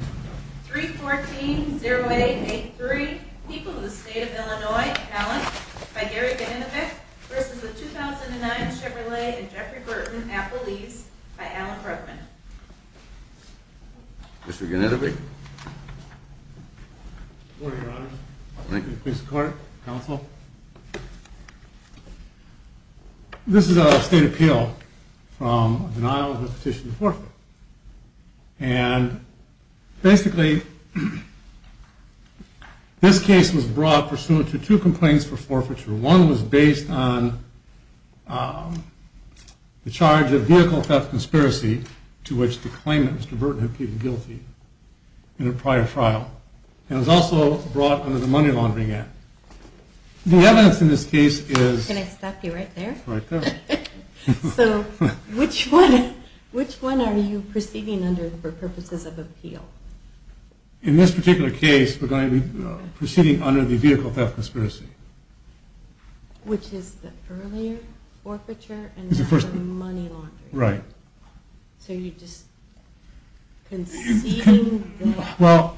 314-0883, People of the State of Illinois, Allen v. 2009 Chevrolet and Jeffery Burton, Appalachia v. Allen Bruckman Mr. Gennadievic Good morning, Your Honor. Thank you, Mr. Court, Counsel. This is a State Appeal from a denial of a petition for forfeiture. And basically, this case was brought pursuant to two complaints for forfeiture. One was based on the charge of vehicle theft conspiracy, to which the claimant, Mr. Burton, had pleaded guilty in a prior trial. It was also brought under the Money Laundering Act. The evidence in this case is... Can I stop you right there? Right there. So, which one are you proceeding under for purposes of appeal? In this particular case, we're going to be proceeding under the vehicle theft conspiracy. Which is the earlier forfeiture and the Money Laundering Act. Right. So you're just conceding that... Well,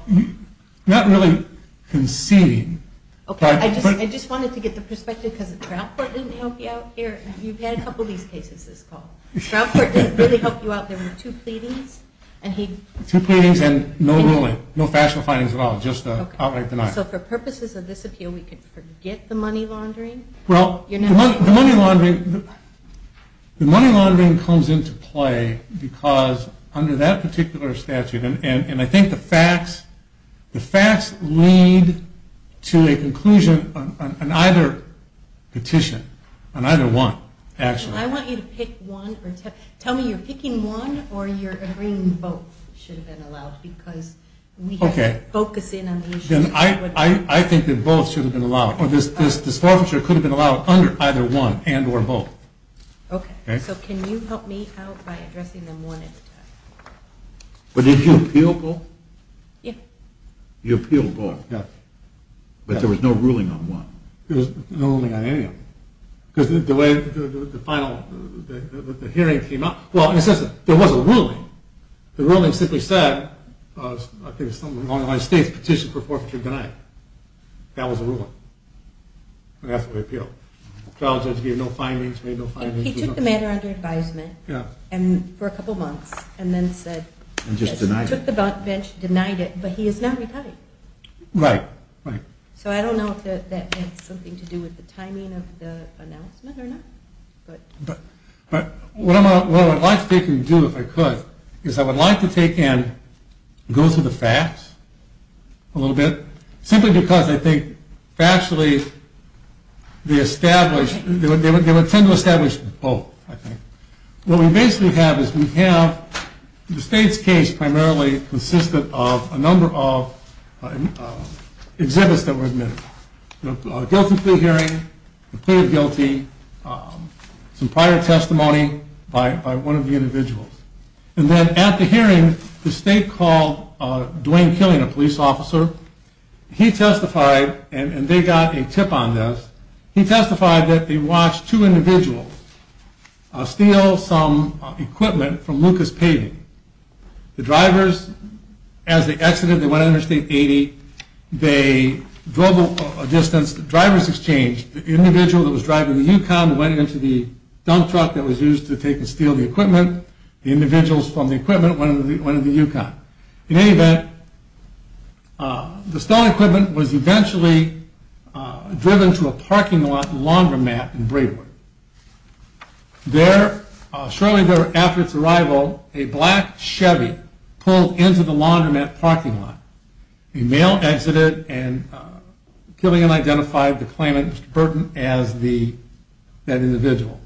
not really conceding... Okay, I just wanted to get the perspective, because the trial court didn't help you out here. You've had a couple of these cases this fall. The trial court didn't really help you out. There were two pleadings, and he... Two pleadings and no ruling, no factual findings at all, just an outright denial. So for purposes of this appeal, we could forget the money laundering? Well, the money laundering comes into play because under that particular statute, and I think the facts lead to a conclusion on either petition. On either one, actually. I want you to pick one. Tell me, you're picking one or you're agreeing both should have been allowed? Because we have to focus in on the issue. I think that both should have been allowed. This forfeiture could have been allowed under either one and or both. Okay. So can you help me out by addressing them one at a time? But did you appeal both? Yes. You appealed both? Yes. But there was no ruling on one? There was no ruling on any of them. Because the way the final hearing came out, well, it says there was a ruling. The ruling simply said, I think it's something along the lines of the state's petition for forfeiture denied. That was the ruling. And that's what we appealed. The trial judge gave no findings, made no findings. He took the matter under advisement. Yeah. And for a couple months. And then said. And just denied it. Took the bench, denied it. But he has not retired. Right. Right. So I don't know if that has something to do with the timing of the announcement or not. But what I would like to take and do if I could, is I would like to take and go through the facts a little bit. Simply because I think factually they would tend to establish both, I think. What we basically have is we have the state's case primarily consistent of a number of exhibits that were admitted. Guilty plea hearing, plea of guilty, some prior testimony by one of the individuals. And then at the hearing, the state called Dwayne Killian, a police officer. He testified, and they got a tip on this. He testified that they watched two individuals steal some equipment from Lucas Paving. The drivers, as they exited, they went under state 80. They drove a distance. The individual that was driving the Yukon went into the dump truck that was used to take and steal the equipment. The individuals from the equipment went into the Yukon. In any event, the stolen equipment was eventually driven to a parking lot laundromat in Braywood. There, shortly after its arrival, a black Chevy pulled into the laundromat parking lot. A male exited, and Killian identified the claimant, Mr. Burton, as that individual.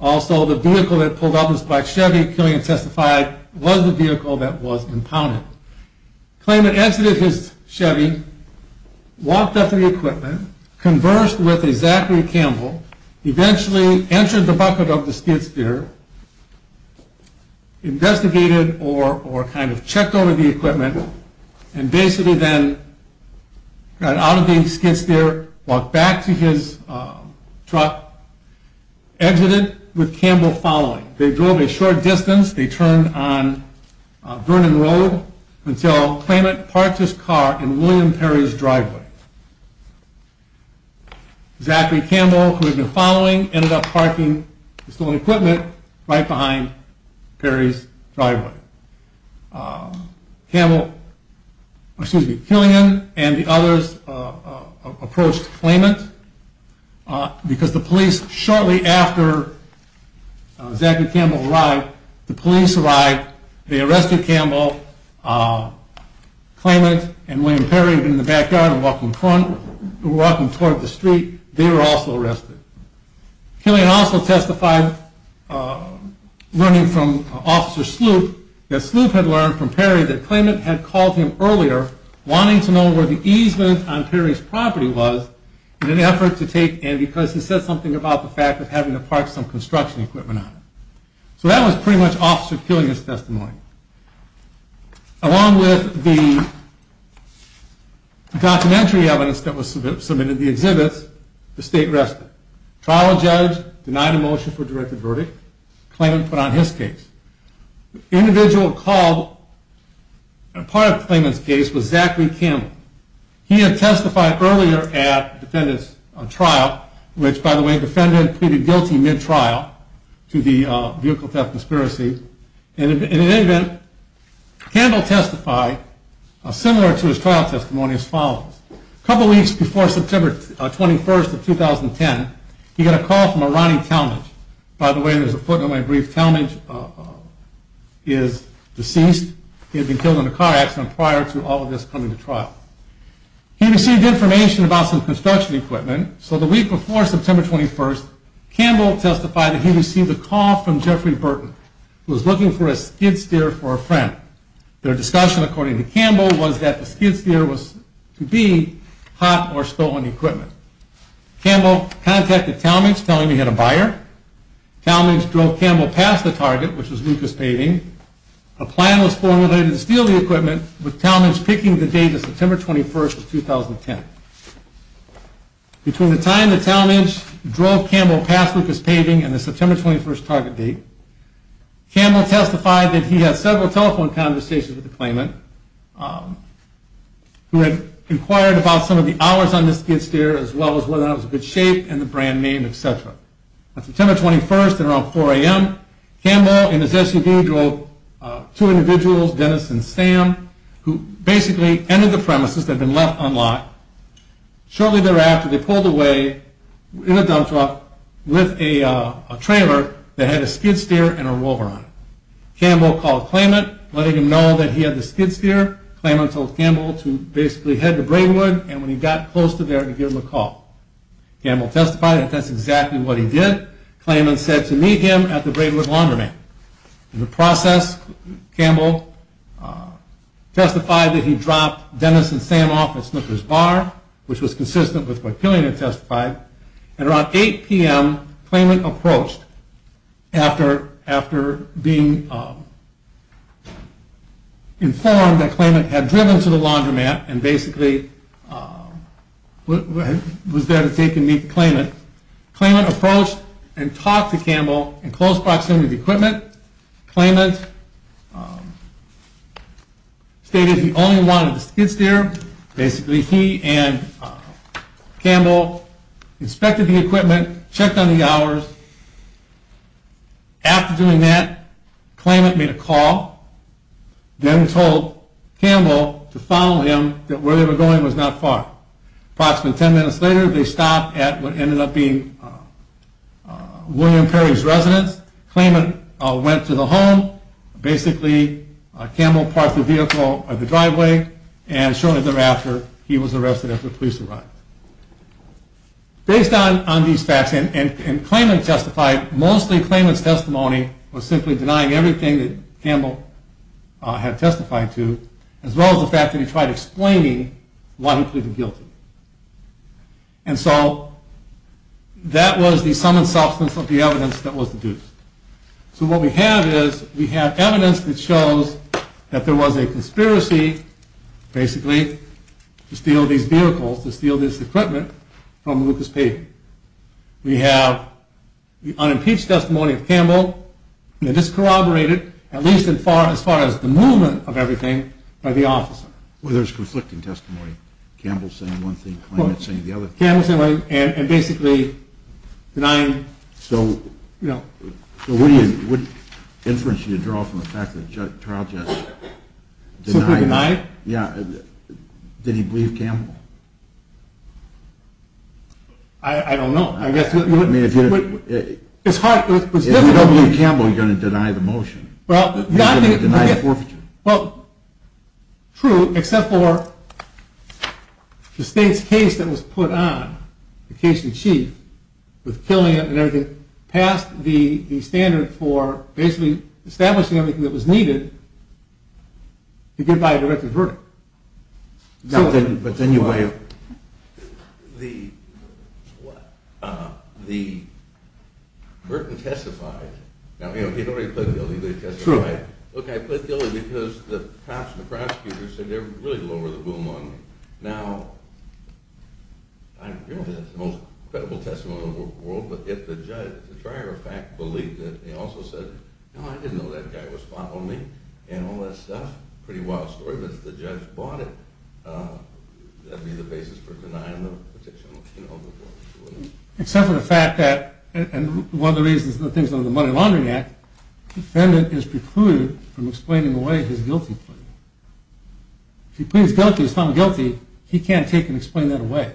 Also, the vehicle that pulled up was a black Chevy. Killian testified it was the vehicle that was impounded. The claimant exited his Chevy, walked up to the equipment, conversed with a Zachary Campbell, eventually entered the bucket of the skid steer, investigated or kind of checked over the equipment, and basically then got out of the skid steer, walked back to his truck, exited with Campbell following. They drove a short distance. They turned on Vernon Road until the claimant parked his car in William Perry's driveway. Zachary Campbell, who had been following, ended up parking the stolen equipment right behind Perry's driveway. Killian and the others approached the claimant because the police, shortly after Zachary Campbell arrived, the police arrived, they arrested Campbell, claimant, and William Perry had been in the backyard and walking toward the street, they were also arrested. Killian also testified, learning from Officer Sloop, that Sloop had learned from Perry that claimant had called him earlier, wanting to know where the easement on Perry's property was, in an effort to take in, because he said something about the fact of having to park some construction equipment on it. So that was pretty much Officer Killian's testimony. Along with the documentary evidence that was submitted to the exhibits, the state rested. Trial judge denied a motion for a directed verdict. Claimant put on his case. The individual called as part of the claimant's case was Zachary Campbell. He had testified earlier at the defendant's trial, which by the way, the defendant pleaded guilty mid-trial to the vehicle theft conspiracy. In any event, Campbell testified similar to his trial testimony as follows. A couple weeks before September 21st of 2010, he got a call from a Ronnie Talmadge. By the way, there's a footnote in my brief. Talmadge is deceased. He had been killed in a car accident prior to all of this coming to trial. He received information about some construction equipment, so the week before September 21st, Campbell testified that he received a call from Jeffrey Burton, who was looking for a skid steer for a friend. Their discussion according to Campbell was that the skid steer was to be hot or stolen equipment. Campbell contacted Talmadge, telling him he had a buyer. Talmadge drove Campbell past the target, which was Lucas Paving. A plan was formulated to steal the equipment, with Talmadge picking the date of September 21st of 2010. Between the time that Talmadge drove Campbell past Lucas Paving and the September 21st target date, Campbell testified that he had several telephone conversations with the claimant, who had inquired about some of the hours on the skid steer, as well as whether or not it was in good shape, and the brand name, etc. On September 21st at around 4 a.m., Campbell and his SUV drove two individuals, Dennis and Sam, who basically entered the premises that had been left unlocked. Shortly thereafter, they pulled away in a dump truck with a trailer that had a skid steer and a rover on it. Campbell called the claimant, letting him know that he had the skid steer. The claimant told Campbell to basically head to Braidwood, and when he got close to there, to give him a call. Campbell testified that that's exactly what he did. The claimant said to meet him at the Braidwood laundromat. In the process, Campbell testified that he dropped Dennis and Sam off at Snooker's Bar, which was consistent with what Killian had testified. At around 8 p.m., the claimant approached after being informed that the claimant had driven to the laundromat and basically was there to take and meet the claimant. The claimant approached and talked to Campbell in close proximity to the equipment. The claimant stated that he only wanted the skid steer. Basically, he and Campbell inspected the equipment, checked on the hours. After doing that, the claimant made a call. Dennis told Campbell to follow him, that where they were going was not far. Approximately 10 minutes later, they stopped at what ended up being William Perry's residence. The claimant went to the home, basically Campbell parked the vehicle at the driveway, and shortly thereafter, he was arrested after the police arrived. Based on these facts, and the claimant testified, mostly the claimant's testimony was simply denying everything that Campbell had testified to, as well as the fact that he tried explaining why he pleaded guilty. And so, that was the sum and substance of the evidence that was deduced. So what we have is, we have evidence that shows that there was a conspiracy, basically, to steal these vehicles, to steal this equipment from Lucas Peyton. We have the unimpeached testimony of Campbell, and it's corroborated, at least as far as the movement of everything, by the officer. Well, there's conflicting testimony. Campbell's saying one thing, the claimant's saying the other. Campbell's saying one thing, and basically denying... So, what inference do you draw from the fact that trial judge denied... Simply denied? Yeah, did he believe Campbell? I don't know. If you don't believe Campbell, you're going to deny the motion. You're going to deny the forfeiture. Well, true, except for the state's case that was put on, the case in chief, with Killian and everything, passed the standard for basically establishing everything that was needed, to get by a directed verdict. But then you... The...Burton testified. Now, he already pleaded guilty. True. Look, I pleaded guilty because the cops and the prosecutors said they really lowered the boom on me. Now, I don't know if that's the most credible testimony in the world, but if the judge, to try or fact, believed it, they also said, no, I didn't know that guy was following me and all that stuff, pretty wild story, but if the judge bought it, that would be the basis for denying the... Except for the fact that, and one of the reasons the things under the Money Laundering Act, defendant is precluded from explaining away his guilty plea. If he pleads guilty, he's found guilty, he can't take and explain that away.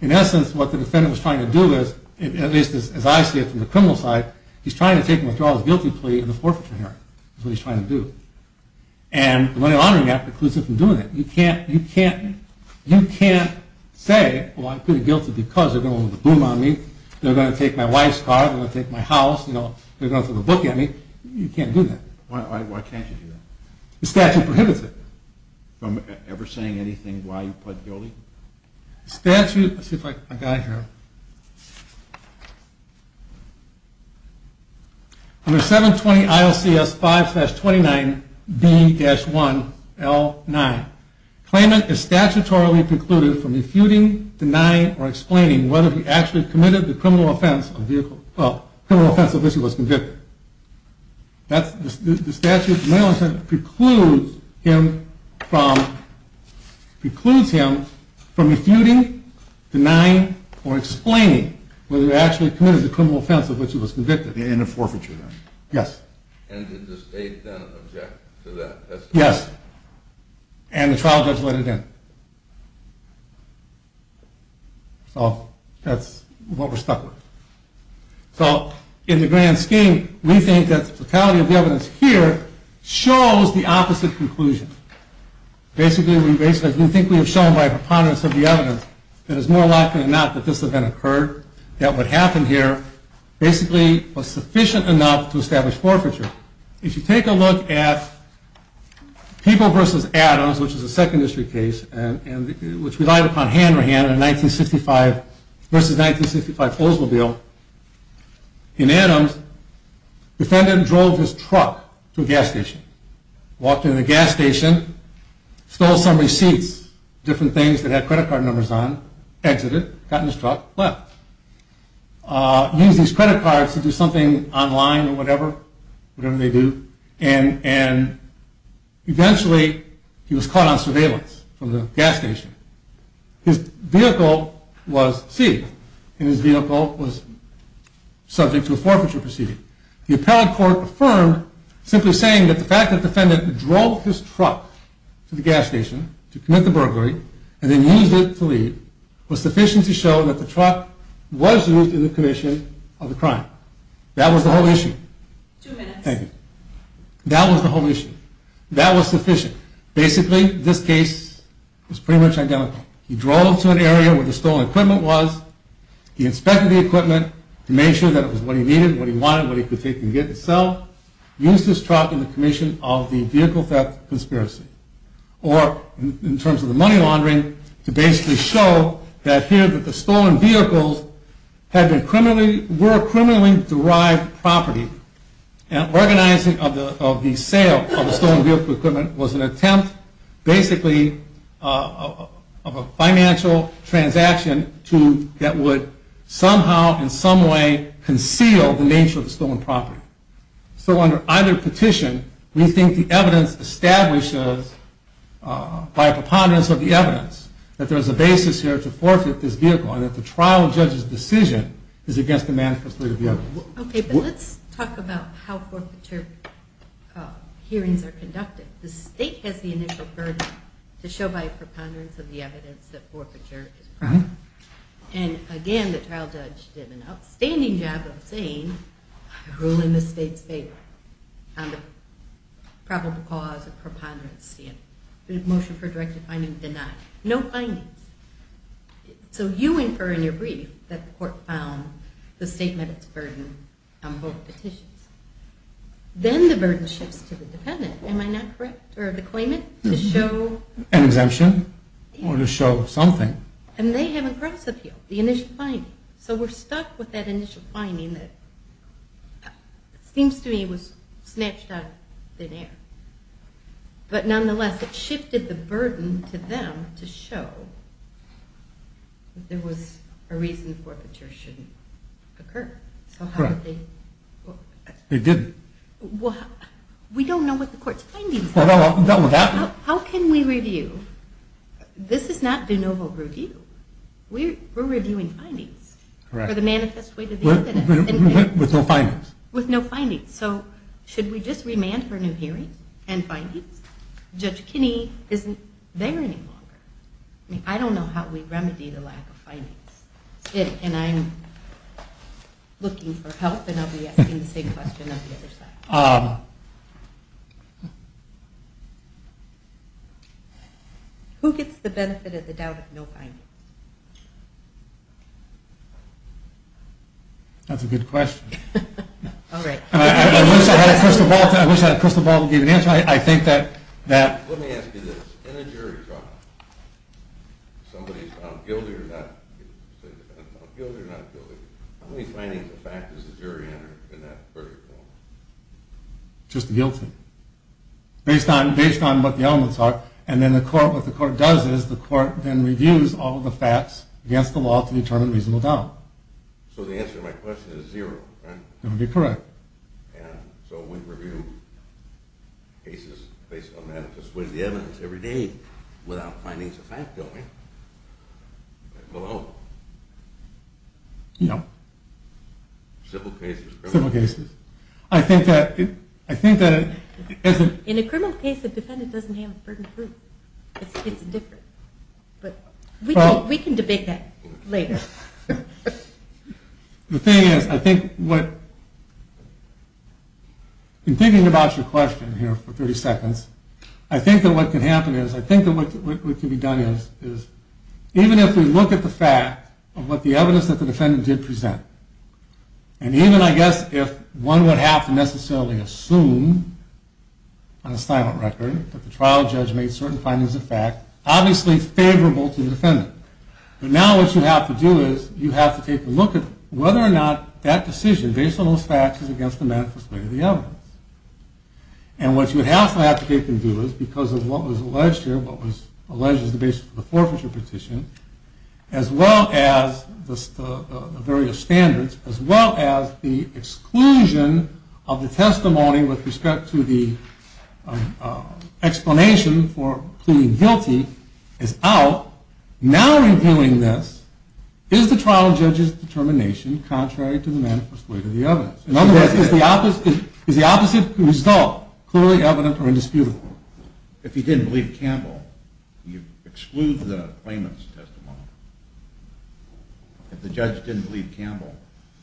In essence, what the defendant was trying to do is, at least as I see it from the criminal side, he's trying to take and withdraw his guilty plea in the forfeiture hearing. That's what he's trying to do. And the Money Laundering Act precludes him from doing that. You can't say, well, I pleaded guilty because they're going to lower the boom on me, they're going to take my wife's car, they're going to take my house, they're going to throw a book at me. You can't do that. Why can't you do that? The statute prohibits it. From ever saying anything while you pled guilty? Let's see if I've got it here. Under 720 ILCS 5-29B-1L9, claimant is statutorily precluded from refuting, denying, or explaining whether he actually committed the criminal offense of which he was convicted. The statute precludes him from refuting, denying, or explaining whether he actually committed the criminal offense of which he was convicted. In a forfeiture then? Yes. And did the state then object to that? Yes. And the trial judge let it in. So that's what we're stuck with. So in the grand scheme, we think that the totality of the evidence here shows the opposite conclusion. Basically, we think we have shown by preponderance of the evidence that it's more likely than not that this event occurred, that what happened here basically was sufficient enough to establish forfeiture. If you take a look at People v. Adams, which is a Second District case, which relied upon hand-to-hand versus 1965 Oldsmobile, in Adams, defendant drove his truck to a gas station, walked into the gas station, stole some receipts, different things that had credit card numbers on, exited, got in his truck, left. Used his credit cards to do something online or whatever, whatever they do, and eventually he was caught on surveillance from the gas station. His vehicle was seized, and his vehicle was subject to a forfeiture proceeding. The appellate court affirmed simply saying that the fact that the defendant drove his truck to the gas station to commit the burglary and then used it to leave was sufficient to show that the truck was used in the commission of the crime. That was the whole issue. Thank you. That was the whole issue. That was sufficient. Basically, this case was pretty much identical. He drove to an area where the stolen equipment was, he inspected the equipment to make sure that it was what he needed, what he wanted, what he could take and get and sell, used his truck in the commission of the vehicle theft conspiracy. Or, in terms of the money laundering, to basically show that here that the stolen vehicles were criminally derived property. Organizing of the sale of the stolen vehicle equipment was an attempt, basically, of a financial transaction that would somehow, in some way, conceal the nature of the stolen property. So under either petition, we think the evidence establishes, by a preponderance of the evidence, that there is a basis here to forfeit this vehicle and that the trial judge's decision is against the manifestly of the evidence. Okay, but let's talk about how forfeiture hearings are conducted. The state has the initial burden to show by a preponderance of the evidence that forfeiture is a crime. And, again, the trial judge did an outstanding job of saying, I rule in the state's favor on the probable cause of preponderance. The motion for directive finding denied. No findings. So you infer in your brief that the court found the state met its burden on both petitions. Then the burden shifts to the defendant, am I not correct, or the claimant, to show an exemption or to show something. And they have a cross-appeal, the initial finding. So we're stuck with that initial finding that seems to me was snatched out of thin air. But, nonetheless, it shifted the burden to them to show that there was a reason forfeiture shouldn't occur. So how did they? They didn't. We don't know what the court's findings are. How can we review? This is not de novo review. We're reviewing findings for the manifest way to the evidence. With no findings. With no findings. So should we just remand for new hearings and findings? Judge Kinney isn't there any longer. I mean, I don't know how we remedy the lack of findings. And I'm looking for help, and I'll be asking the same question on the other side. Who gets the benefit of the doubt of no findings? That's a good question. All right. I wish I had a crystal ball to give an answer. Let me ask you this. In a jury trial, if somebody is found guilty or not guilty, how many findings of fact does the jury enter in that verdict? Just guilty. Based on what the elements are. And then what the court does is the court then reviews all of the facts against the law to determine reasonable doubt. So the answer to my question is zero, right? That would be correct. And so we review cases based on manifest way to the evidence every day without findings of fact going. Below. No. Simple cases. Simple cases. I think that... In a criminal case, the defendant doesn't have a burden of proof. It's different. We can debate that later. The thing is, I think what... In thinking about your question here for 30 seconds, I think that what can happen is, I think that what can be done is, even if we look at the fact of what the evidence that the defendant did present, and even, I guess, if one would have to necessarily assume on a silent record that the trial judge made certain findings of fact, obviously favorable to the defendant. But now what you have to do is you have to take a look at whether or not that decision, based on those facts, is against the manifest way of the evidence. And what you would have to have to take and do is, because of what was alleged here, what was alleged as the basis of the forfeiture petition, as well as the various standards, as well as the exclusion of the testimony with respect to the explanation for pleading guilty, is out. Now, in doing this, is the trial judge's determination contrary to the manifest way of the evidence? In other words, is the opposite result clearly evident or indisputable? If you didn't believe Campbell, you exclude the claimant's testimony. If the judge didn't believe Campbell...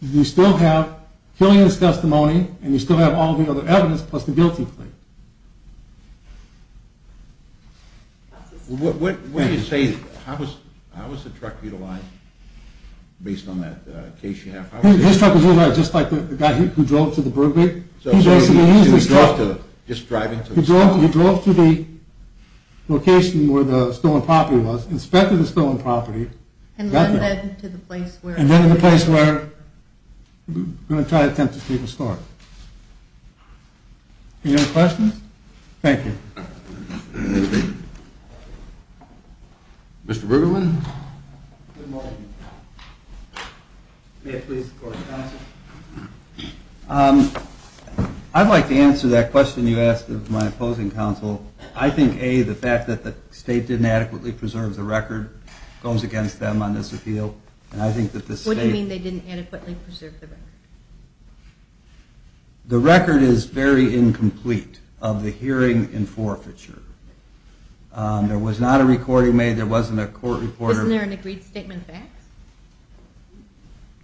You still have Killian's testimony, and you still have all the other evidence, plus the guilty plea. What do you say, how was the truck utilized, based on that case you have? His truck was utilized just like the guy who drove to the Burbank. He drove to the location where the stolen property was, inspected the stolen property, and then to the place where the entire attempt to steal the store. Any other questions? Thank you. Mr. Bergman? Good morning. May I please support the counsel? I'd like to answer that question you asked of my opposing counsel. I think, A, the fact that the state didn't adequately preserve the record goes against them on this appeal, and I think that the state... What do you mean they didn't adequately preserve the record? The record is very incomplete of the hearing in forfeiture. There was not a recording made, there wasn't a court reporter... Isn't there an agreed statement of facts?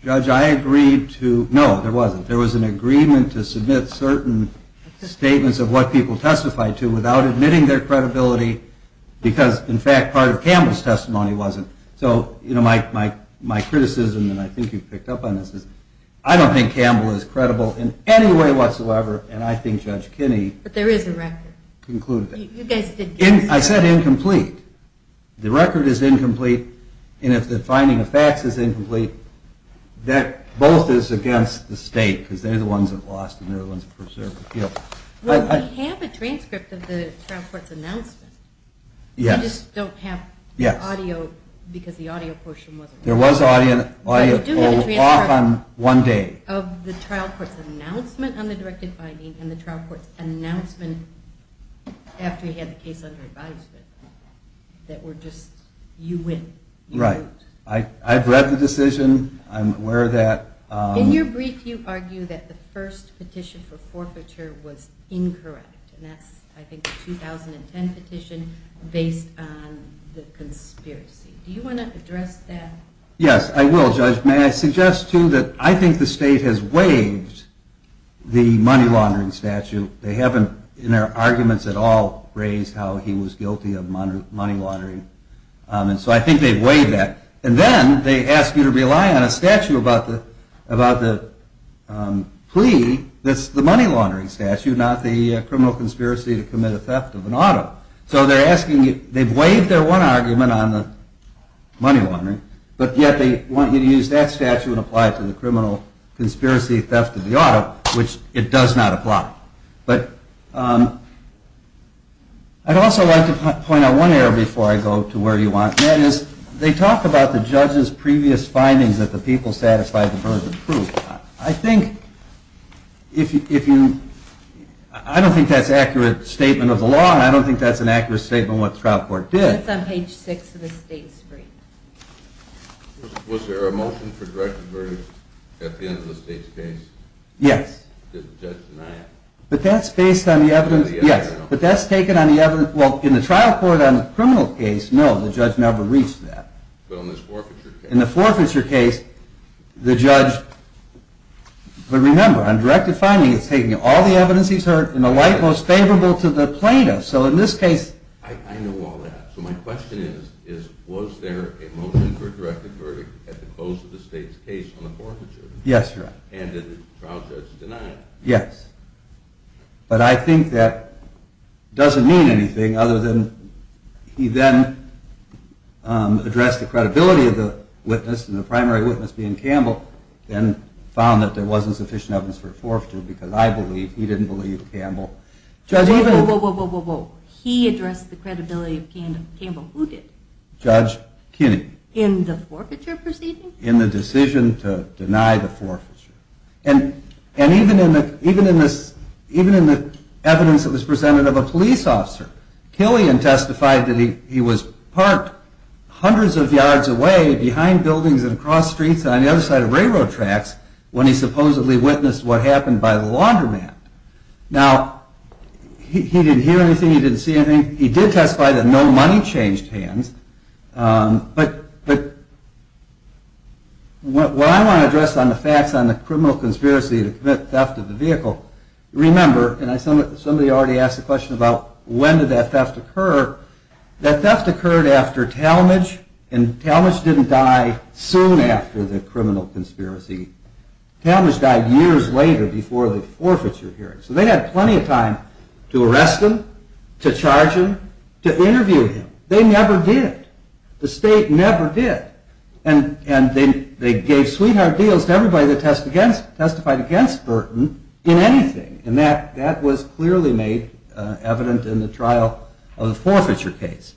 Judge, I agreed to... No, there wasn't. There was an agreement to submit certain statements of what people testified to without admitting their credibility, because, in fact, part of Campbell's testimony wasn't. So, you know, my criticism, and I think you've picked up on this, is I don't think Campbell is credible in any way whatsoever, and I think Judge Kinney... But there is a record. ...concluded that. I said incomplete. The record is incomplete, and if the finding of facts is incomplete, that both is against the state, because they're the ones that lost, and they're the ones that preserved the appeal. Well, we have a transcript of the trial court's announcement. Yes. We just don't have audio, because the audio portion wasn't... There was audio, and the audio pulled off on one day. Of the trial court's announcement on the directed finding and the trial court's announcement after he had the case under advisement that were just, you win. Right. I've read the decision. I'm aware of that. In your brief, you argue that the first petition for forfeiture was incorrect, and that's, I think, the 2010 petition based on the conspiracy. Do you want to address that? Yes, I will, Judge. May I suggest, too, that I think the state has waived the money laundering statute. They haven't in their arguments at all raised how he was guilty of money laundering, and so I think they've waived that. And then they ask you to rely on a statute about the plea that's the money laundering statute, not the criminal conspiracy to commit a theft of an auto. So they're asking you, they've waived their one argument on the money laundering, but yet they want you to use that statute and apply it to the criminal conspiracy theft of the auto, which it does not apply. But I'd also like to point out one area before I go to where you want, and that is they talk about the judge's previous findings that the people satisfied the burden of proof. I think if you, I don't think that's an accurate statement of the law, and I don't think that's an accurate statement of what the trial court did. That's on page 6 of the state screen. Was there a motion for directed verdict at the end of the state's case? Yes. Did the judge deny it? But that's based on the evidence, yes. But that's taken on the evidence, well, in the trial court on the criminal case, no, the judge never reached that. But on this forfeiture case? In the forfeiture case, the judge, but remember, on directed finding, it's taking all the evidence he's heard and the light most favorable to the plaintiff. I know all that. So my question is, was there a motion for directed verdict at the close of the state's case on the forfeiture? Yes, Your Honor. And did the trial judge deny it? Yes. But I think that doesn't mean anything other than he then addressed the credibility of the witness, and the primary witness being Campbell, then found that there wasn't sufficient evidence for forfeiture because I believe he didn't believe Campbell. Whoa, whoa, whoa. He addressed the credibility of Campbell. Who did? Judge Kinney. In the forfeiture proceeding? In the decision to deny the forfeiture. And even in the evidence that was presented of a police officer, Killian testified that he was parked hundreds of yards away behind buildings and across streets and on the other side of railroad tracks when he supposedly witnessed what happened by the laundromat. Now, he didn't hear anything, he didn't see anything. He did testify that no money changed hands, but what I want to address on the facts on the criminal conspiracy to commit theft of the vehicle, remember, and somebody already asked the question about when did that theft occur, that theft occurred after Talmadge, and Talmadge didn't die soon after the criminal conspiracy. Talmadge died years later before the forfeiture hearing. So they had plenty of time to arrest him, to charge him, to interview him. They never did. The state never did. And they gave sweetheart deals to everybody that testified against Burton in anything, and that was clearly made evident in the trial of the forfeiture case.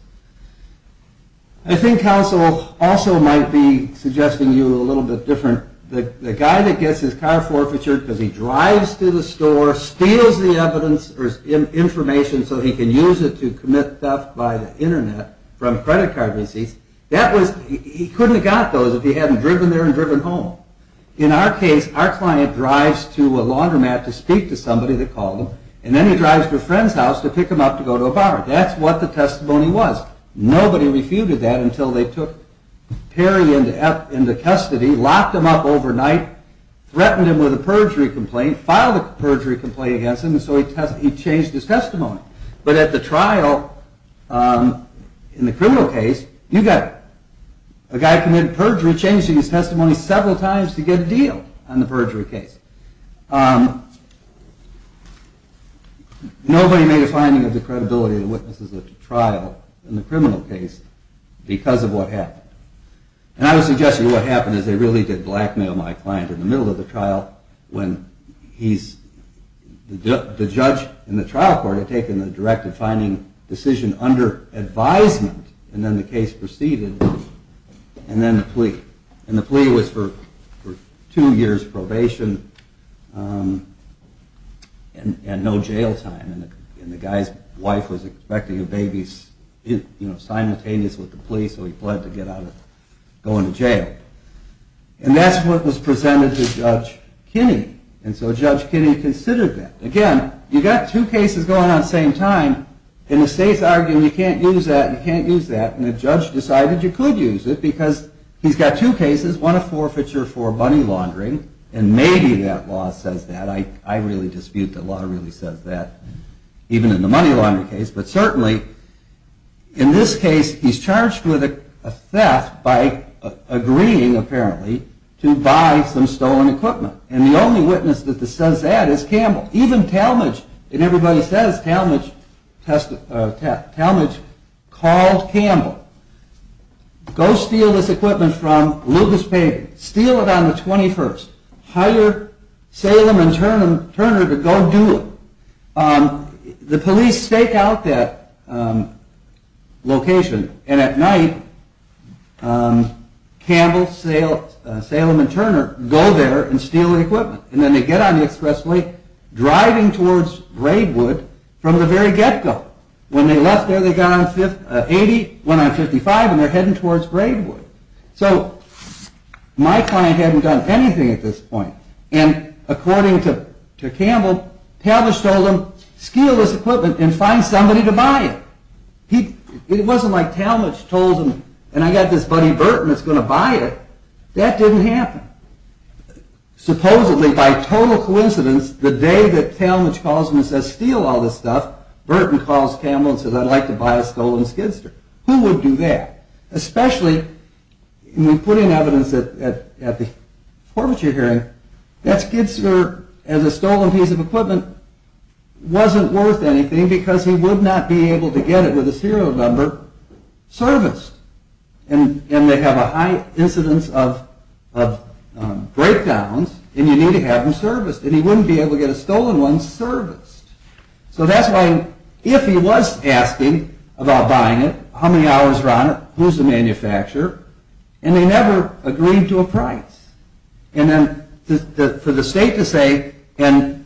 I think counsel also might be suggesting you a little bit different. The guy that gets his car forfeiture because he drives to the store, steals the evidence or information so he can use it to commit theft by the internet from credit card receipts, that was, he couldn't have got those if he hadn't driven there and driven home. In our case, our client drives to a laundromat to speak to somebody that called him, and then he drives to a friend's house to pick him up to go to a bar. That's what the testimony was. Nobody refuted that until they took Perry into custody, locked him up overnight, threatened him with a perjury complaint, filed a perjury complaint against him, and so he changed his testimony. But at the trial, in the criminal case, you got a guy committed perjury, changing his testimony several times to get a deal on the perjury case. Nobody made a finding of the credibility of the witnesses at the trial in the criminal case because of what happened. And I would suggest to you what happened is they really did blackmail my client in the middle of the trial when he's, the judge in the trial court had taken the directive finding decision under advisement, and then the case proceeded, and then the plea. And the plea was for two years probation and no jail time. And the guy's wife was expecting a baby, you know, simultaneous with the plea, so he fled to get out of going to jail. And that's what was presented to Judge Kinney. And so Judge Kinney considered that. Again, you got two cases going on at the same time, and the state's arguing you can't use that, you can't use that, and the judge decided you could use it because he's got two cases, one a forfeiture for money laundering, and maybe that law says that. I really dispute the law really says that, even in the money laundering case. But certainly, in this case, he's charged with a theft by agreeing, apparently, to buy some stolen equipment. And the only witness that says that is Campbell. Even Talmadge, and everybody says Talmadge, called Campbell. Go steal this equipment from Lucas Payton. Steal it on the 21st. Hire Salem and Turner to go do it. The police stake out that location, and at night, Campbell, Salem, and Turner go there and steal the equipment. And then they get on the expressway, driving towards Braidwood from the very get-go. When they left there, they got on 80, went on 55, and they're heading towards Braidwood. So my client hadn't done anything at this point. And according to Campbell, Talmadge told him, steal this equipment and find somebody to buy it. It wasn't like Talmadge told him, and I got this buddy Burton that's going to buy it. That didn't happen. Supposedly, by total coincidence, the day that Talmadge calls and says, steal all this stuff, Burton calls Campbell and says, I'd like to buy a stolen skidster. Who would do that? Especially, putting evidence at the forfeiture hearing, that skidster as a stolen piece of equipment wasn't worth anything because he would not be able to get it with a serial number serviced. And they have a high incidence of breakdowns, and you need to have them serviced. And he wouldn't be able to get a stolen one serviced. So that's why, if he was asking about buying it, how many hours were on it, who's the manufacturer, and they never agreed to a price. And then for the state to say, and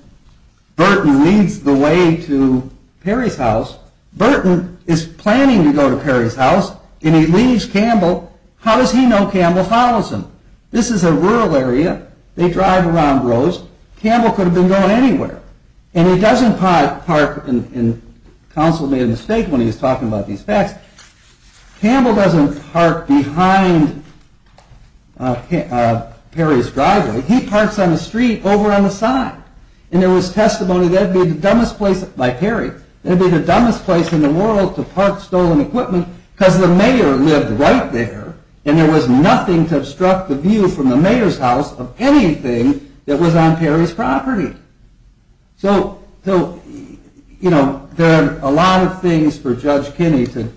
Burton leads the way to Perry's house, Burton is planning to go to Perry's house, and he leads Campbell, how does he know Campbell follows him? This is a rural area, they drive around roads, Campbell could have been going anywhere. And he doesn't park, and counsel made a mistake when he was talking about these facts, Campbell doesn't park behind Perry's driveway, he parks on the street over on the side. And there was testimony that it would be the dumbest place, by Perry, it would be the dumbest place in the world to park stolen equipment, because the mayor lived right there, and there was nothing to obstruct the view from the mayor's house of anything that was on Perry's property. So there are a lot of things for Judge Kinney to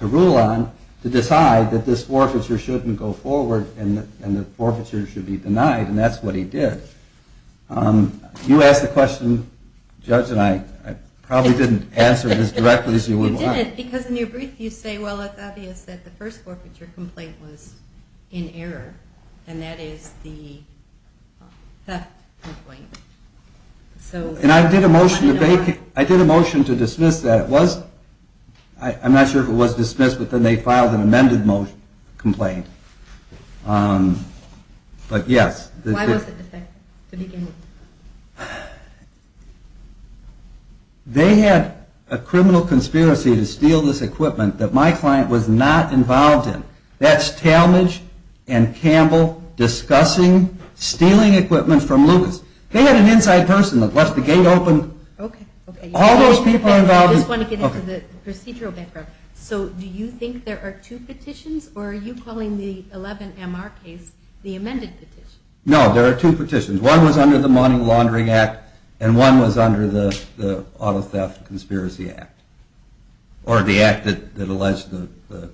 rule on, to decide that this forfeiture shouldn't go forward, and the forfeiture should be denied, and that's what he did. You asked the question, Judge, and I probably didn't answer it as directly as you would like. You didn't, because in your brief you say, well it's obvious that the first forfeiture complaint was in error, and that is the theft complaint. And I did a motion to dismiss that, I'm not sure if it was dismissed, but then they filed an amended complaint. Why was it defective, to begin with? They had a criminal conspiracy to steal this equipment that my client was not involved in. That's Talmadge and Campbell discussing stealing equipment from Lucas. They had an inside person that left the gate open. Okay. All those people involved in... I just want to get into the procedural background. So do you think there are two petitions, or are you calling the first petition in the 11MR case the amended petition? No, there are two petitions. One was under the Money Laundering Act, and one was under the Auto Theft Conspiracy Act, or the act that alleged the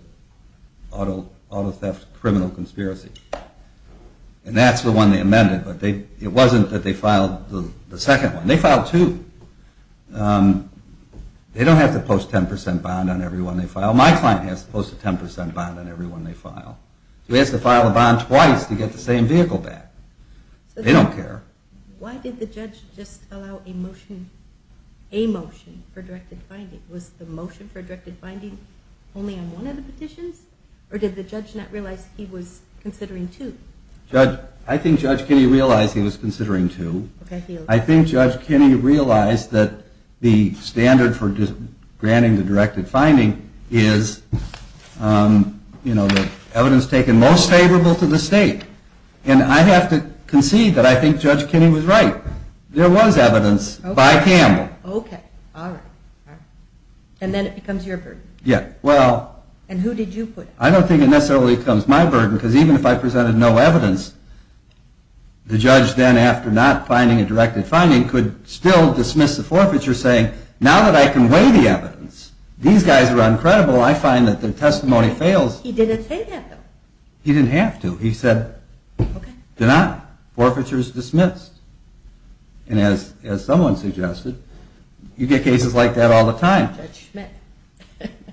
auto theft criminal conspiracy. And that's the one they amended, but it wasn't that they filed the second one. They filed two. They don't have to post a 10% bond on every one they file. Well, my client has to post a 10% bond on every one they file. He has to file a bond twice to get the same vehicle back. They don't care. Why did the judge just allow a motion for directed finding? Was the motion for directed finding only on one of the petitions, or did the judge not realize he was considering two? I think Judge Kinney realized he was considering two. Okay. I think Judge Kinney realized that the standard for granting the directed finding is the evidence taken most favorable to the state. And I have to concede that I think Judge Kinney was right. There was evidence by Campbell. Okay. All right. And then it becomes your burden. Yeah. And who did you put? I don't think it necessarily becomes my burden, because even if I presented no evidence, the judge then, after not finding a directed finding, could still dismiss the forfeiture saying, now that I can weigh the evidence, these guys are uncredible, I find that their testimony fails. He didn't say that, though. He didn't have to. He said, do not. Forfeiture is dismissed. And as someone suggested, you get cases like that all the time. Judge Schmidt.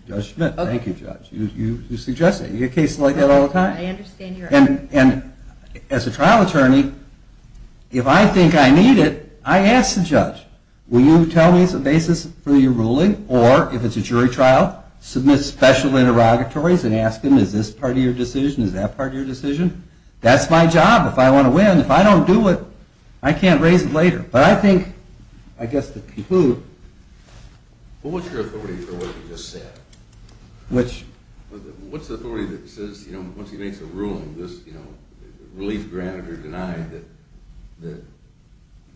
Judge Schmidt. Thank you, Judge. You suggested it. You get cases like that all the time. And as a trial attorney, if I think I need it, I ask the judge, will you tell me the basis for your ruling? Or if it's a jury trial, submit special interrogatories and ask them, is this part of your decision? Is that part of your decision? That's my job. If I want to win. If I don't do it, I can't raise it later. But I think, I guess to conclude. What was your authority for what he just said? Which? What's the authority that says, you know, once he makes a ruling, this, you know, relief granted or denied, that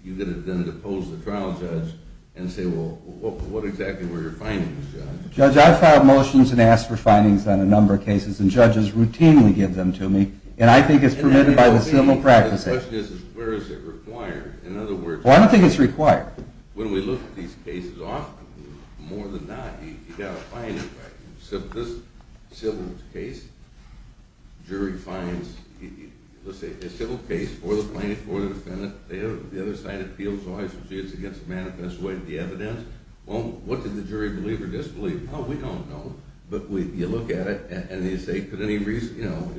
you're going to then depose the trial judge and say, well, what exactly were your findings, Judge? Judge, I've filed motions and asked for findings on a number of cases, and judges routinely give them to me. And I think it's permitted by the civil practice. The question is, where is it required? In other words. Well, I don't think it's required. When we look at these cases often, more than not, you've got a finding. Right. So this civil case, jury finds, let's say, a civil case for the plaintiff or the defendant, they have the other side of the appeal, so I should say it's against the manifest way of the evidence. Well, what did the jury believe or disbelieve? Oh, we don't know. But you look at it, and you say, could any reason, you know,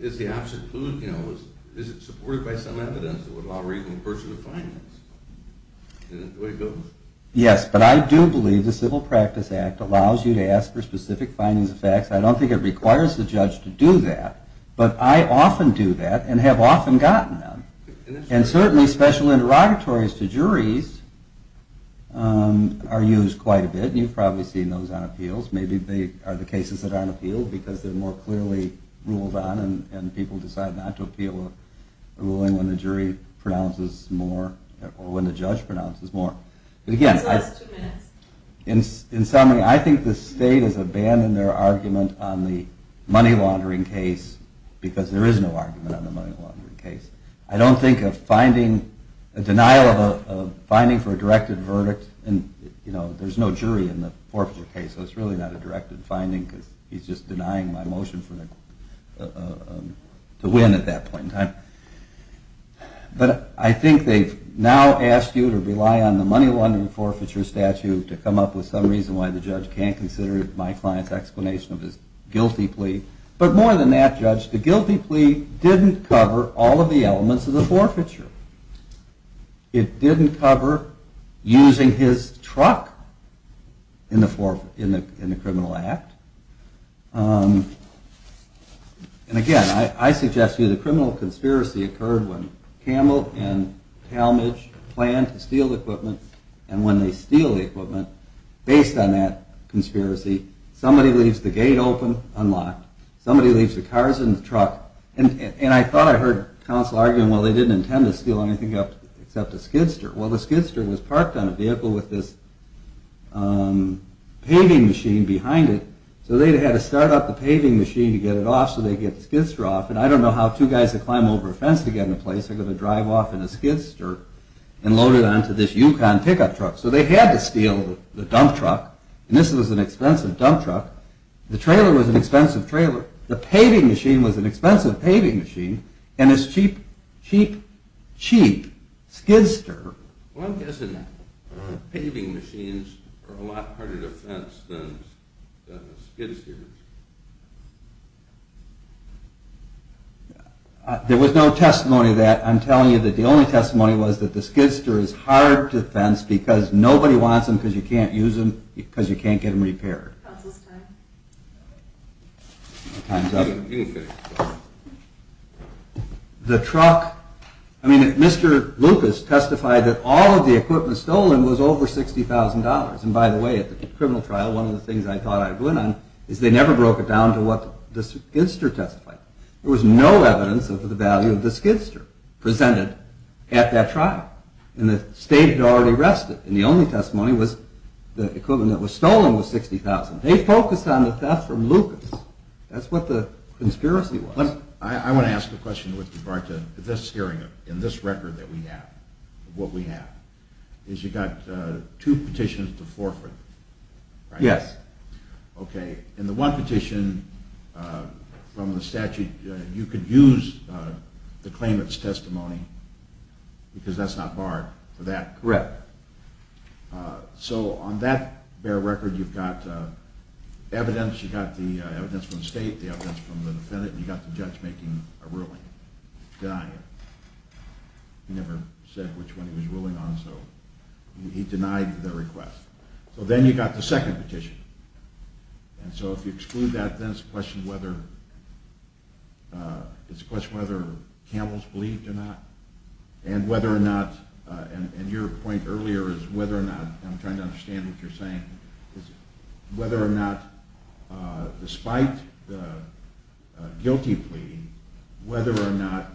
is the absent clue, you know, is it supported by some evidence that would allow reason to pursue the findings? Is that the way it goes? Yes, but I do believe the Civil Practice Act allows you to ask for specific findings and facts. I don't think it requires the judge to do that, but I often do that and have often gotten them. And certainly special interrogatories to juries are used quite a bit, and you've probably seen those on appeals. Maybe they are the cases that aren't appealed because they're more clearly ruled on and people decide not to appeal a ruling when the jury pronounces more or when the judge pronounces more. So that's two minutes. In summary, I think the state has abandoned their argument on the money laundering case because there is no argument on the money laundering case. I don't think of a denial of a finding for a directed verdict, and, you know, there's no jury in the forfeiture case, so it's really not a directed finding because he's just denying my motion to win at that point in time. But I think they've now asked you to rely on the money laundering forfeiture statute to come up with some reason why the judge can't consider my client's explanation of his guilty plea. But more than that, Judge, the guilty plea didn't cover all of the elements of the forfeiture. It didn't cover using his truck in the criminal act. And, again, I suggest to you the criminal conspiracy occurred when Campbell and Talmadge planned to steal the equipment, and when they steal the equipment, based on that conspiracy, somebody leaves the gate open unlocked, somebody leaves the cars in the truck, and I thought I heard counsel arguing, well, they didn't intend to steal anything except a skidster. Well, the skidster was parked on a vehicle with this paving machine behind it, so they had to start up the paving machine to get it off so they could get the skidster off, and I don't know how two guys that climb over a fence to get into place are going to drive off in a skidster and load it onto this Yukon pickup truck. So they had to steal the dump truck, and this was an expensive dump truck. The trailer was an expensive trailer. The paving machine was an expensive paving machine, and this cheap, cheap, cheap skidster. Well, I'm guessing paving machines are a lot harder to fence than skidsters. There was no testimony to that. I'm telling you that the only testimony was that the skidster is hard to fence because nobody wants them because you can't use them because you can't get them repaired. Counsel's time. You can finish. The truck, I mean, Mr. Lucas testified that all of the equipment stolen was over $60,000, and by the way, at the criminal trial, one of the things I thought I'd win on is they never broke it down to what the skidster testified. There was no evidence of the value of the skidster presented at that trial, and the state had already arrested, and the only testimony was the equipment that was stolen was $60,000. They focused on the theft from Lucas. That's what the conspiracy was. I want to ask a question with regard to this hearing and this record that we have, what we have, is you got two petitions to forfeit, right? Yes. Okay. In the one petition from the statute, you could use the claimant's testimony because that's not barred for that. Correct. So on that bare record, you've got evidence. You've got the evidence from the state, the evidence from the defendant, and you've got the judge making a ruling, denying it. He never said which one he was ruling on, so he denied the request. So then you've got the second petition, and so if you exclude that, then it's a question whether Campbell's believed or not, and whether or not, and your point earlier is whether or not, and I'm trying to understand what you're saying, is whether or not despite the guilty plea, whether or not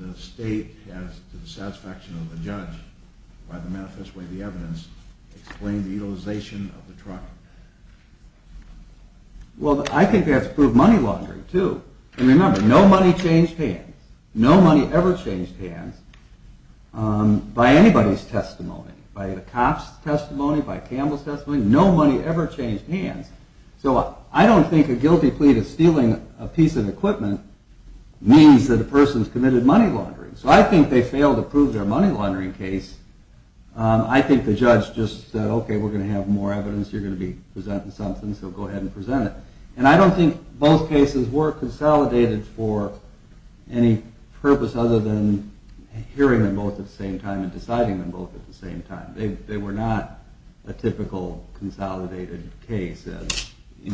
the state, as to the satisfaction of the judge by the manifest way of the evidence, explained the utilization of the truck. Well, I think that's proved money laundering, too. And remember, no money changed hands. No money ever changed hands. By anybody's testimony, by the cop's testimony, by Campbell's testimony, no money ever changed hands. So I don't think a guilty plea to stealing a piece of equipment means that a person's committed money laundering. So I think they failed to prove their money laundering case. I think the judge just said, okay, we're going to have more evidence, you're going to be presenting something, so go ahead and present it. And I don't think both cases were consolidated for any purpose other than hearing them both at the same time and deciding them both at the same time. They were not a typical consolidated case. We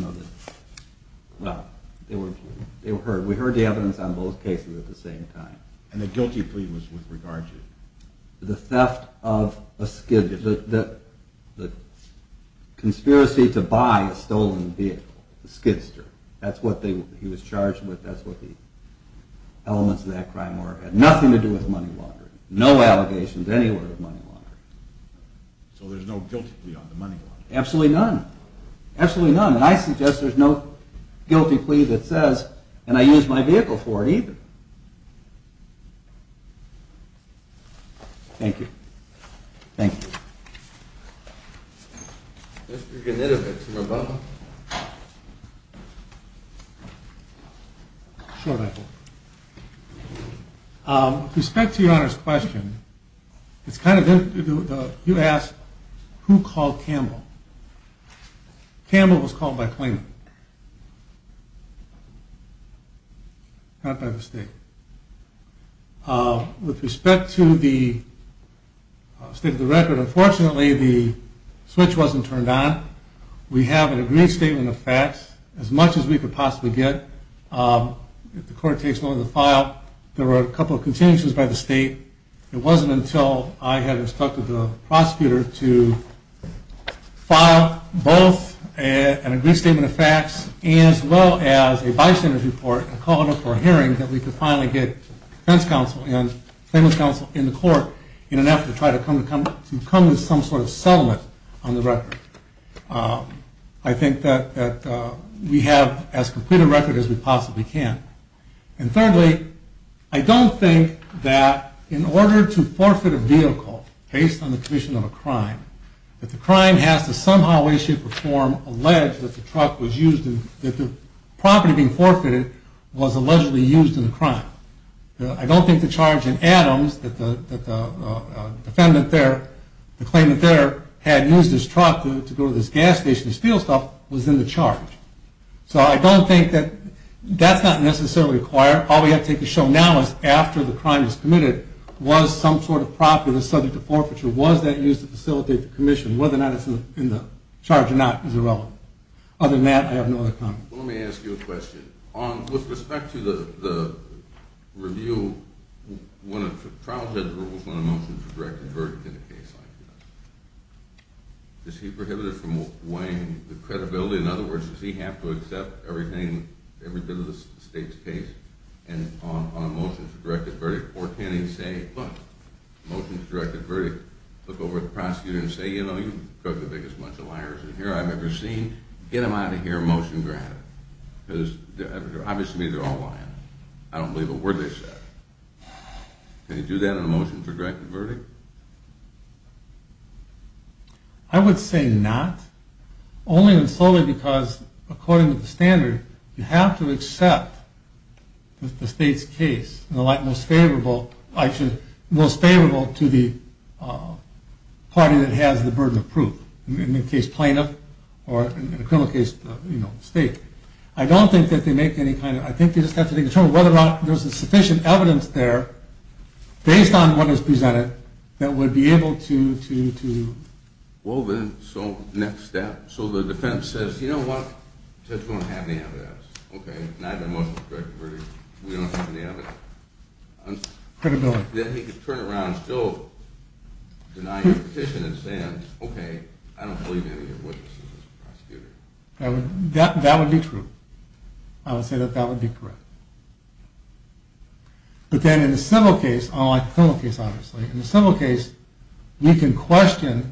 heard the evidence on both cases at the same time. And the guilty plea was with regard to? The theft of a Skid, the conspiracy to buy a stolen vehicle, the Skidster. That's what he was charged with, that's what the elements of that crime were. It had nothing to do with money laundering. No allegations anywhere of money laundering. So there's no guilty plea on the money laundering? Absolutely none. Absolutely none. And I suggest there's no guilty plea that says, and I used my vehicle for it either. Thank you. Thank you. Mr. Gnidovic from Obama. With respect to your Honor's question, you asked who called Campbell. Campbell was called by claimant, not by the state. With respect to the state of the record, unfortunately the switch wasn't turned on. We have an agreed statement of facts, as much as we could possibly get. If the court takes note of the file, there were a couple of continuations by the state. It wasn't until I had instructed the prosecutor to file both an agreed statement of facts, as well as a bystander's report and call it up for a hearing, that we could finally get defense counsel and claimant's counsel in the court in an effort to try to come to some sort of settlement on the record. I think that we have as complete a record as we possibly can. And thirdly, I don't think that in order to forfeit a vehicle based on the commission of a crime, that the crime has to somehow, way, shape, or form, allege that the property being forfeited was allegedly used in the crime. I don't think the charge in Adams, that the claimant there had used his truck to go to this gas station and steal stuff, was in the charge. So I don't think that that's not necessarily required. All we have to take a show now is after the crime was committed, was some sort of property that was subject to forfeiture, was that used to facilitate the commission? Whether or not it's in the charge or not is irrelevant. Other than that, I have no other comments. Well, let me ask you a question. With respect to the review, when a trial judge rules on a motion to direct a verdict in a case like this, does he prohibit it from weighing the credibility? In other words, does he have to accept everything, every bit of the state's case on a motion to direct a verdict? Or can he say, look, motion to direct a verdict. Look over at the prosecutor and say, you know, you've drugged the biggest bunch of liars in here I've ever seen. Get them out of here motion granted. Because obviously they're all lying. I don't believe a word they said. Can you do that on a motion to direct a verdict? I would say not. Only and solely because according to the standard, you have to accept that the state's case, the most favorable to the party that has the burden of proof. In the case plaintiff or in a criminal case, you know, state. I don't think that they make any kind of, I think they just have to determine whether or not there's sufficient evidence there based on what is presented that would be able to. Well then, so next step. So the defense says, you know what? Since we don't have any evidence. Okay, neither motion to direct a verdict. We don't have any evidence. Credibility. Then he could turn around and still deny your petition and say, okay, I don't believe any of this. That would be true. I would say that that would be correct. But then in a civil case, unlike a criminal case obviously, in a civil case, we can question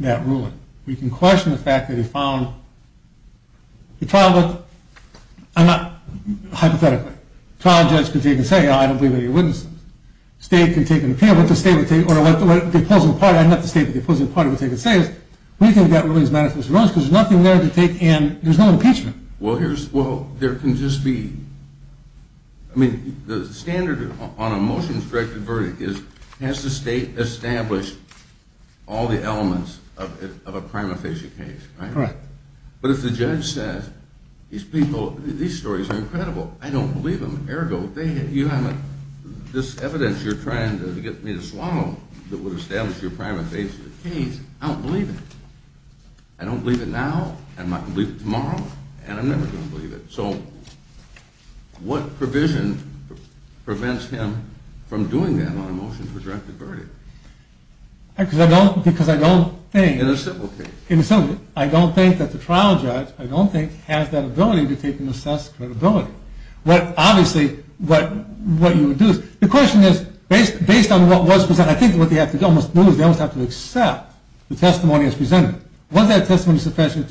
that ruling. We can question the fact that he found, the trial looked, hypothetically, trial judge can take and say, I don't believe any of your witnesses. State can take and appeal, but the state would take, or the opposing party, not the state, but the opposing party would take and say, we think that ruling is manifestly wrong because there's nothing there to take and there's no impeachment. Well, there can just be, I mean, the standard on a motion to direct a verdict is, has the state established all the elements of a prima facie case? Correct. But if the judge says, these people, these stories are incredible. I don't believe them, ergo, this evidence you're trying to get me to swallow that would establish your prima facie case, I don't believe it. I don't believe it now, I might believe it tomorrow, and I'm never going to believe it. So what provision prevents him from doing that on a motion to direct a verdict? Because I don't think... In a civil case. In a civil case, I don't think that the trial judge, I don't think, has that ability to take and assess credibility. Obviously, what you would do is, the question is, based on what was presented, I think what they almost have to do is they almost have to accept the testimony as presented. Was that testimony sufficient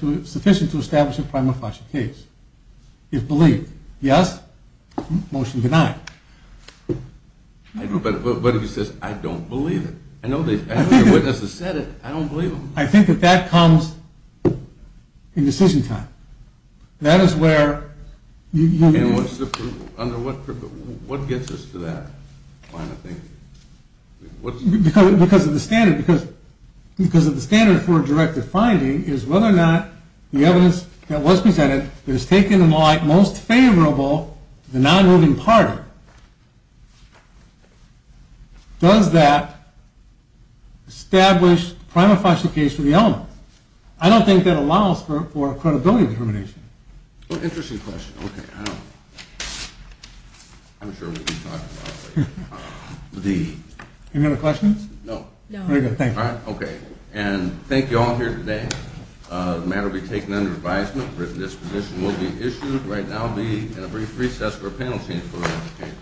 to establish a prima facie case? If believed. Yes? Motion denied. I agree, but if he says, I don't believe it, I know your witnesses said it, I don't believe them. I think that that comes in decision time. That is where... And what's the proof? What gets us to that point, I think? Because of the standard for a directed finding is whether or not the evidence that was presented is taken in the light most favorable to the non-moving party. Does that establish a prima facie case for the element? I don't think that allows for credibility determination. Interesting question. I'm sure we can talk about it later. Any other questions? No. Very good, thank you. Okay, and thank you all here today. The matter will be taken under advisement. Written disposition will be issued. Right now I'll be in a brief recess for a panel change for the rest of the case.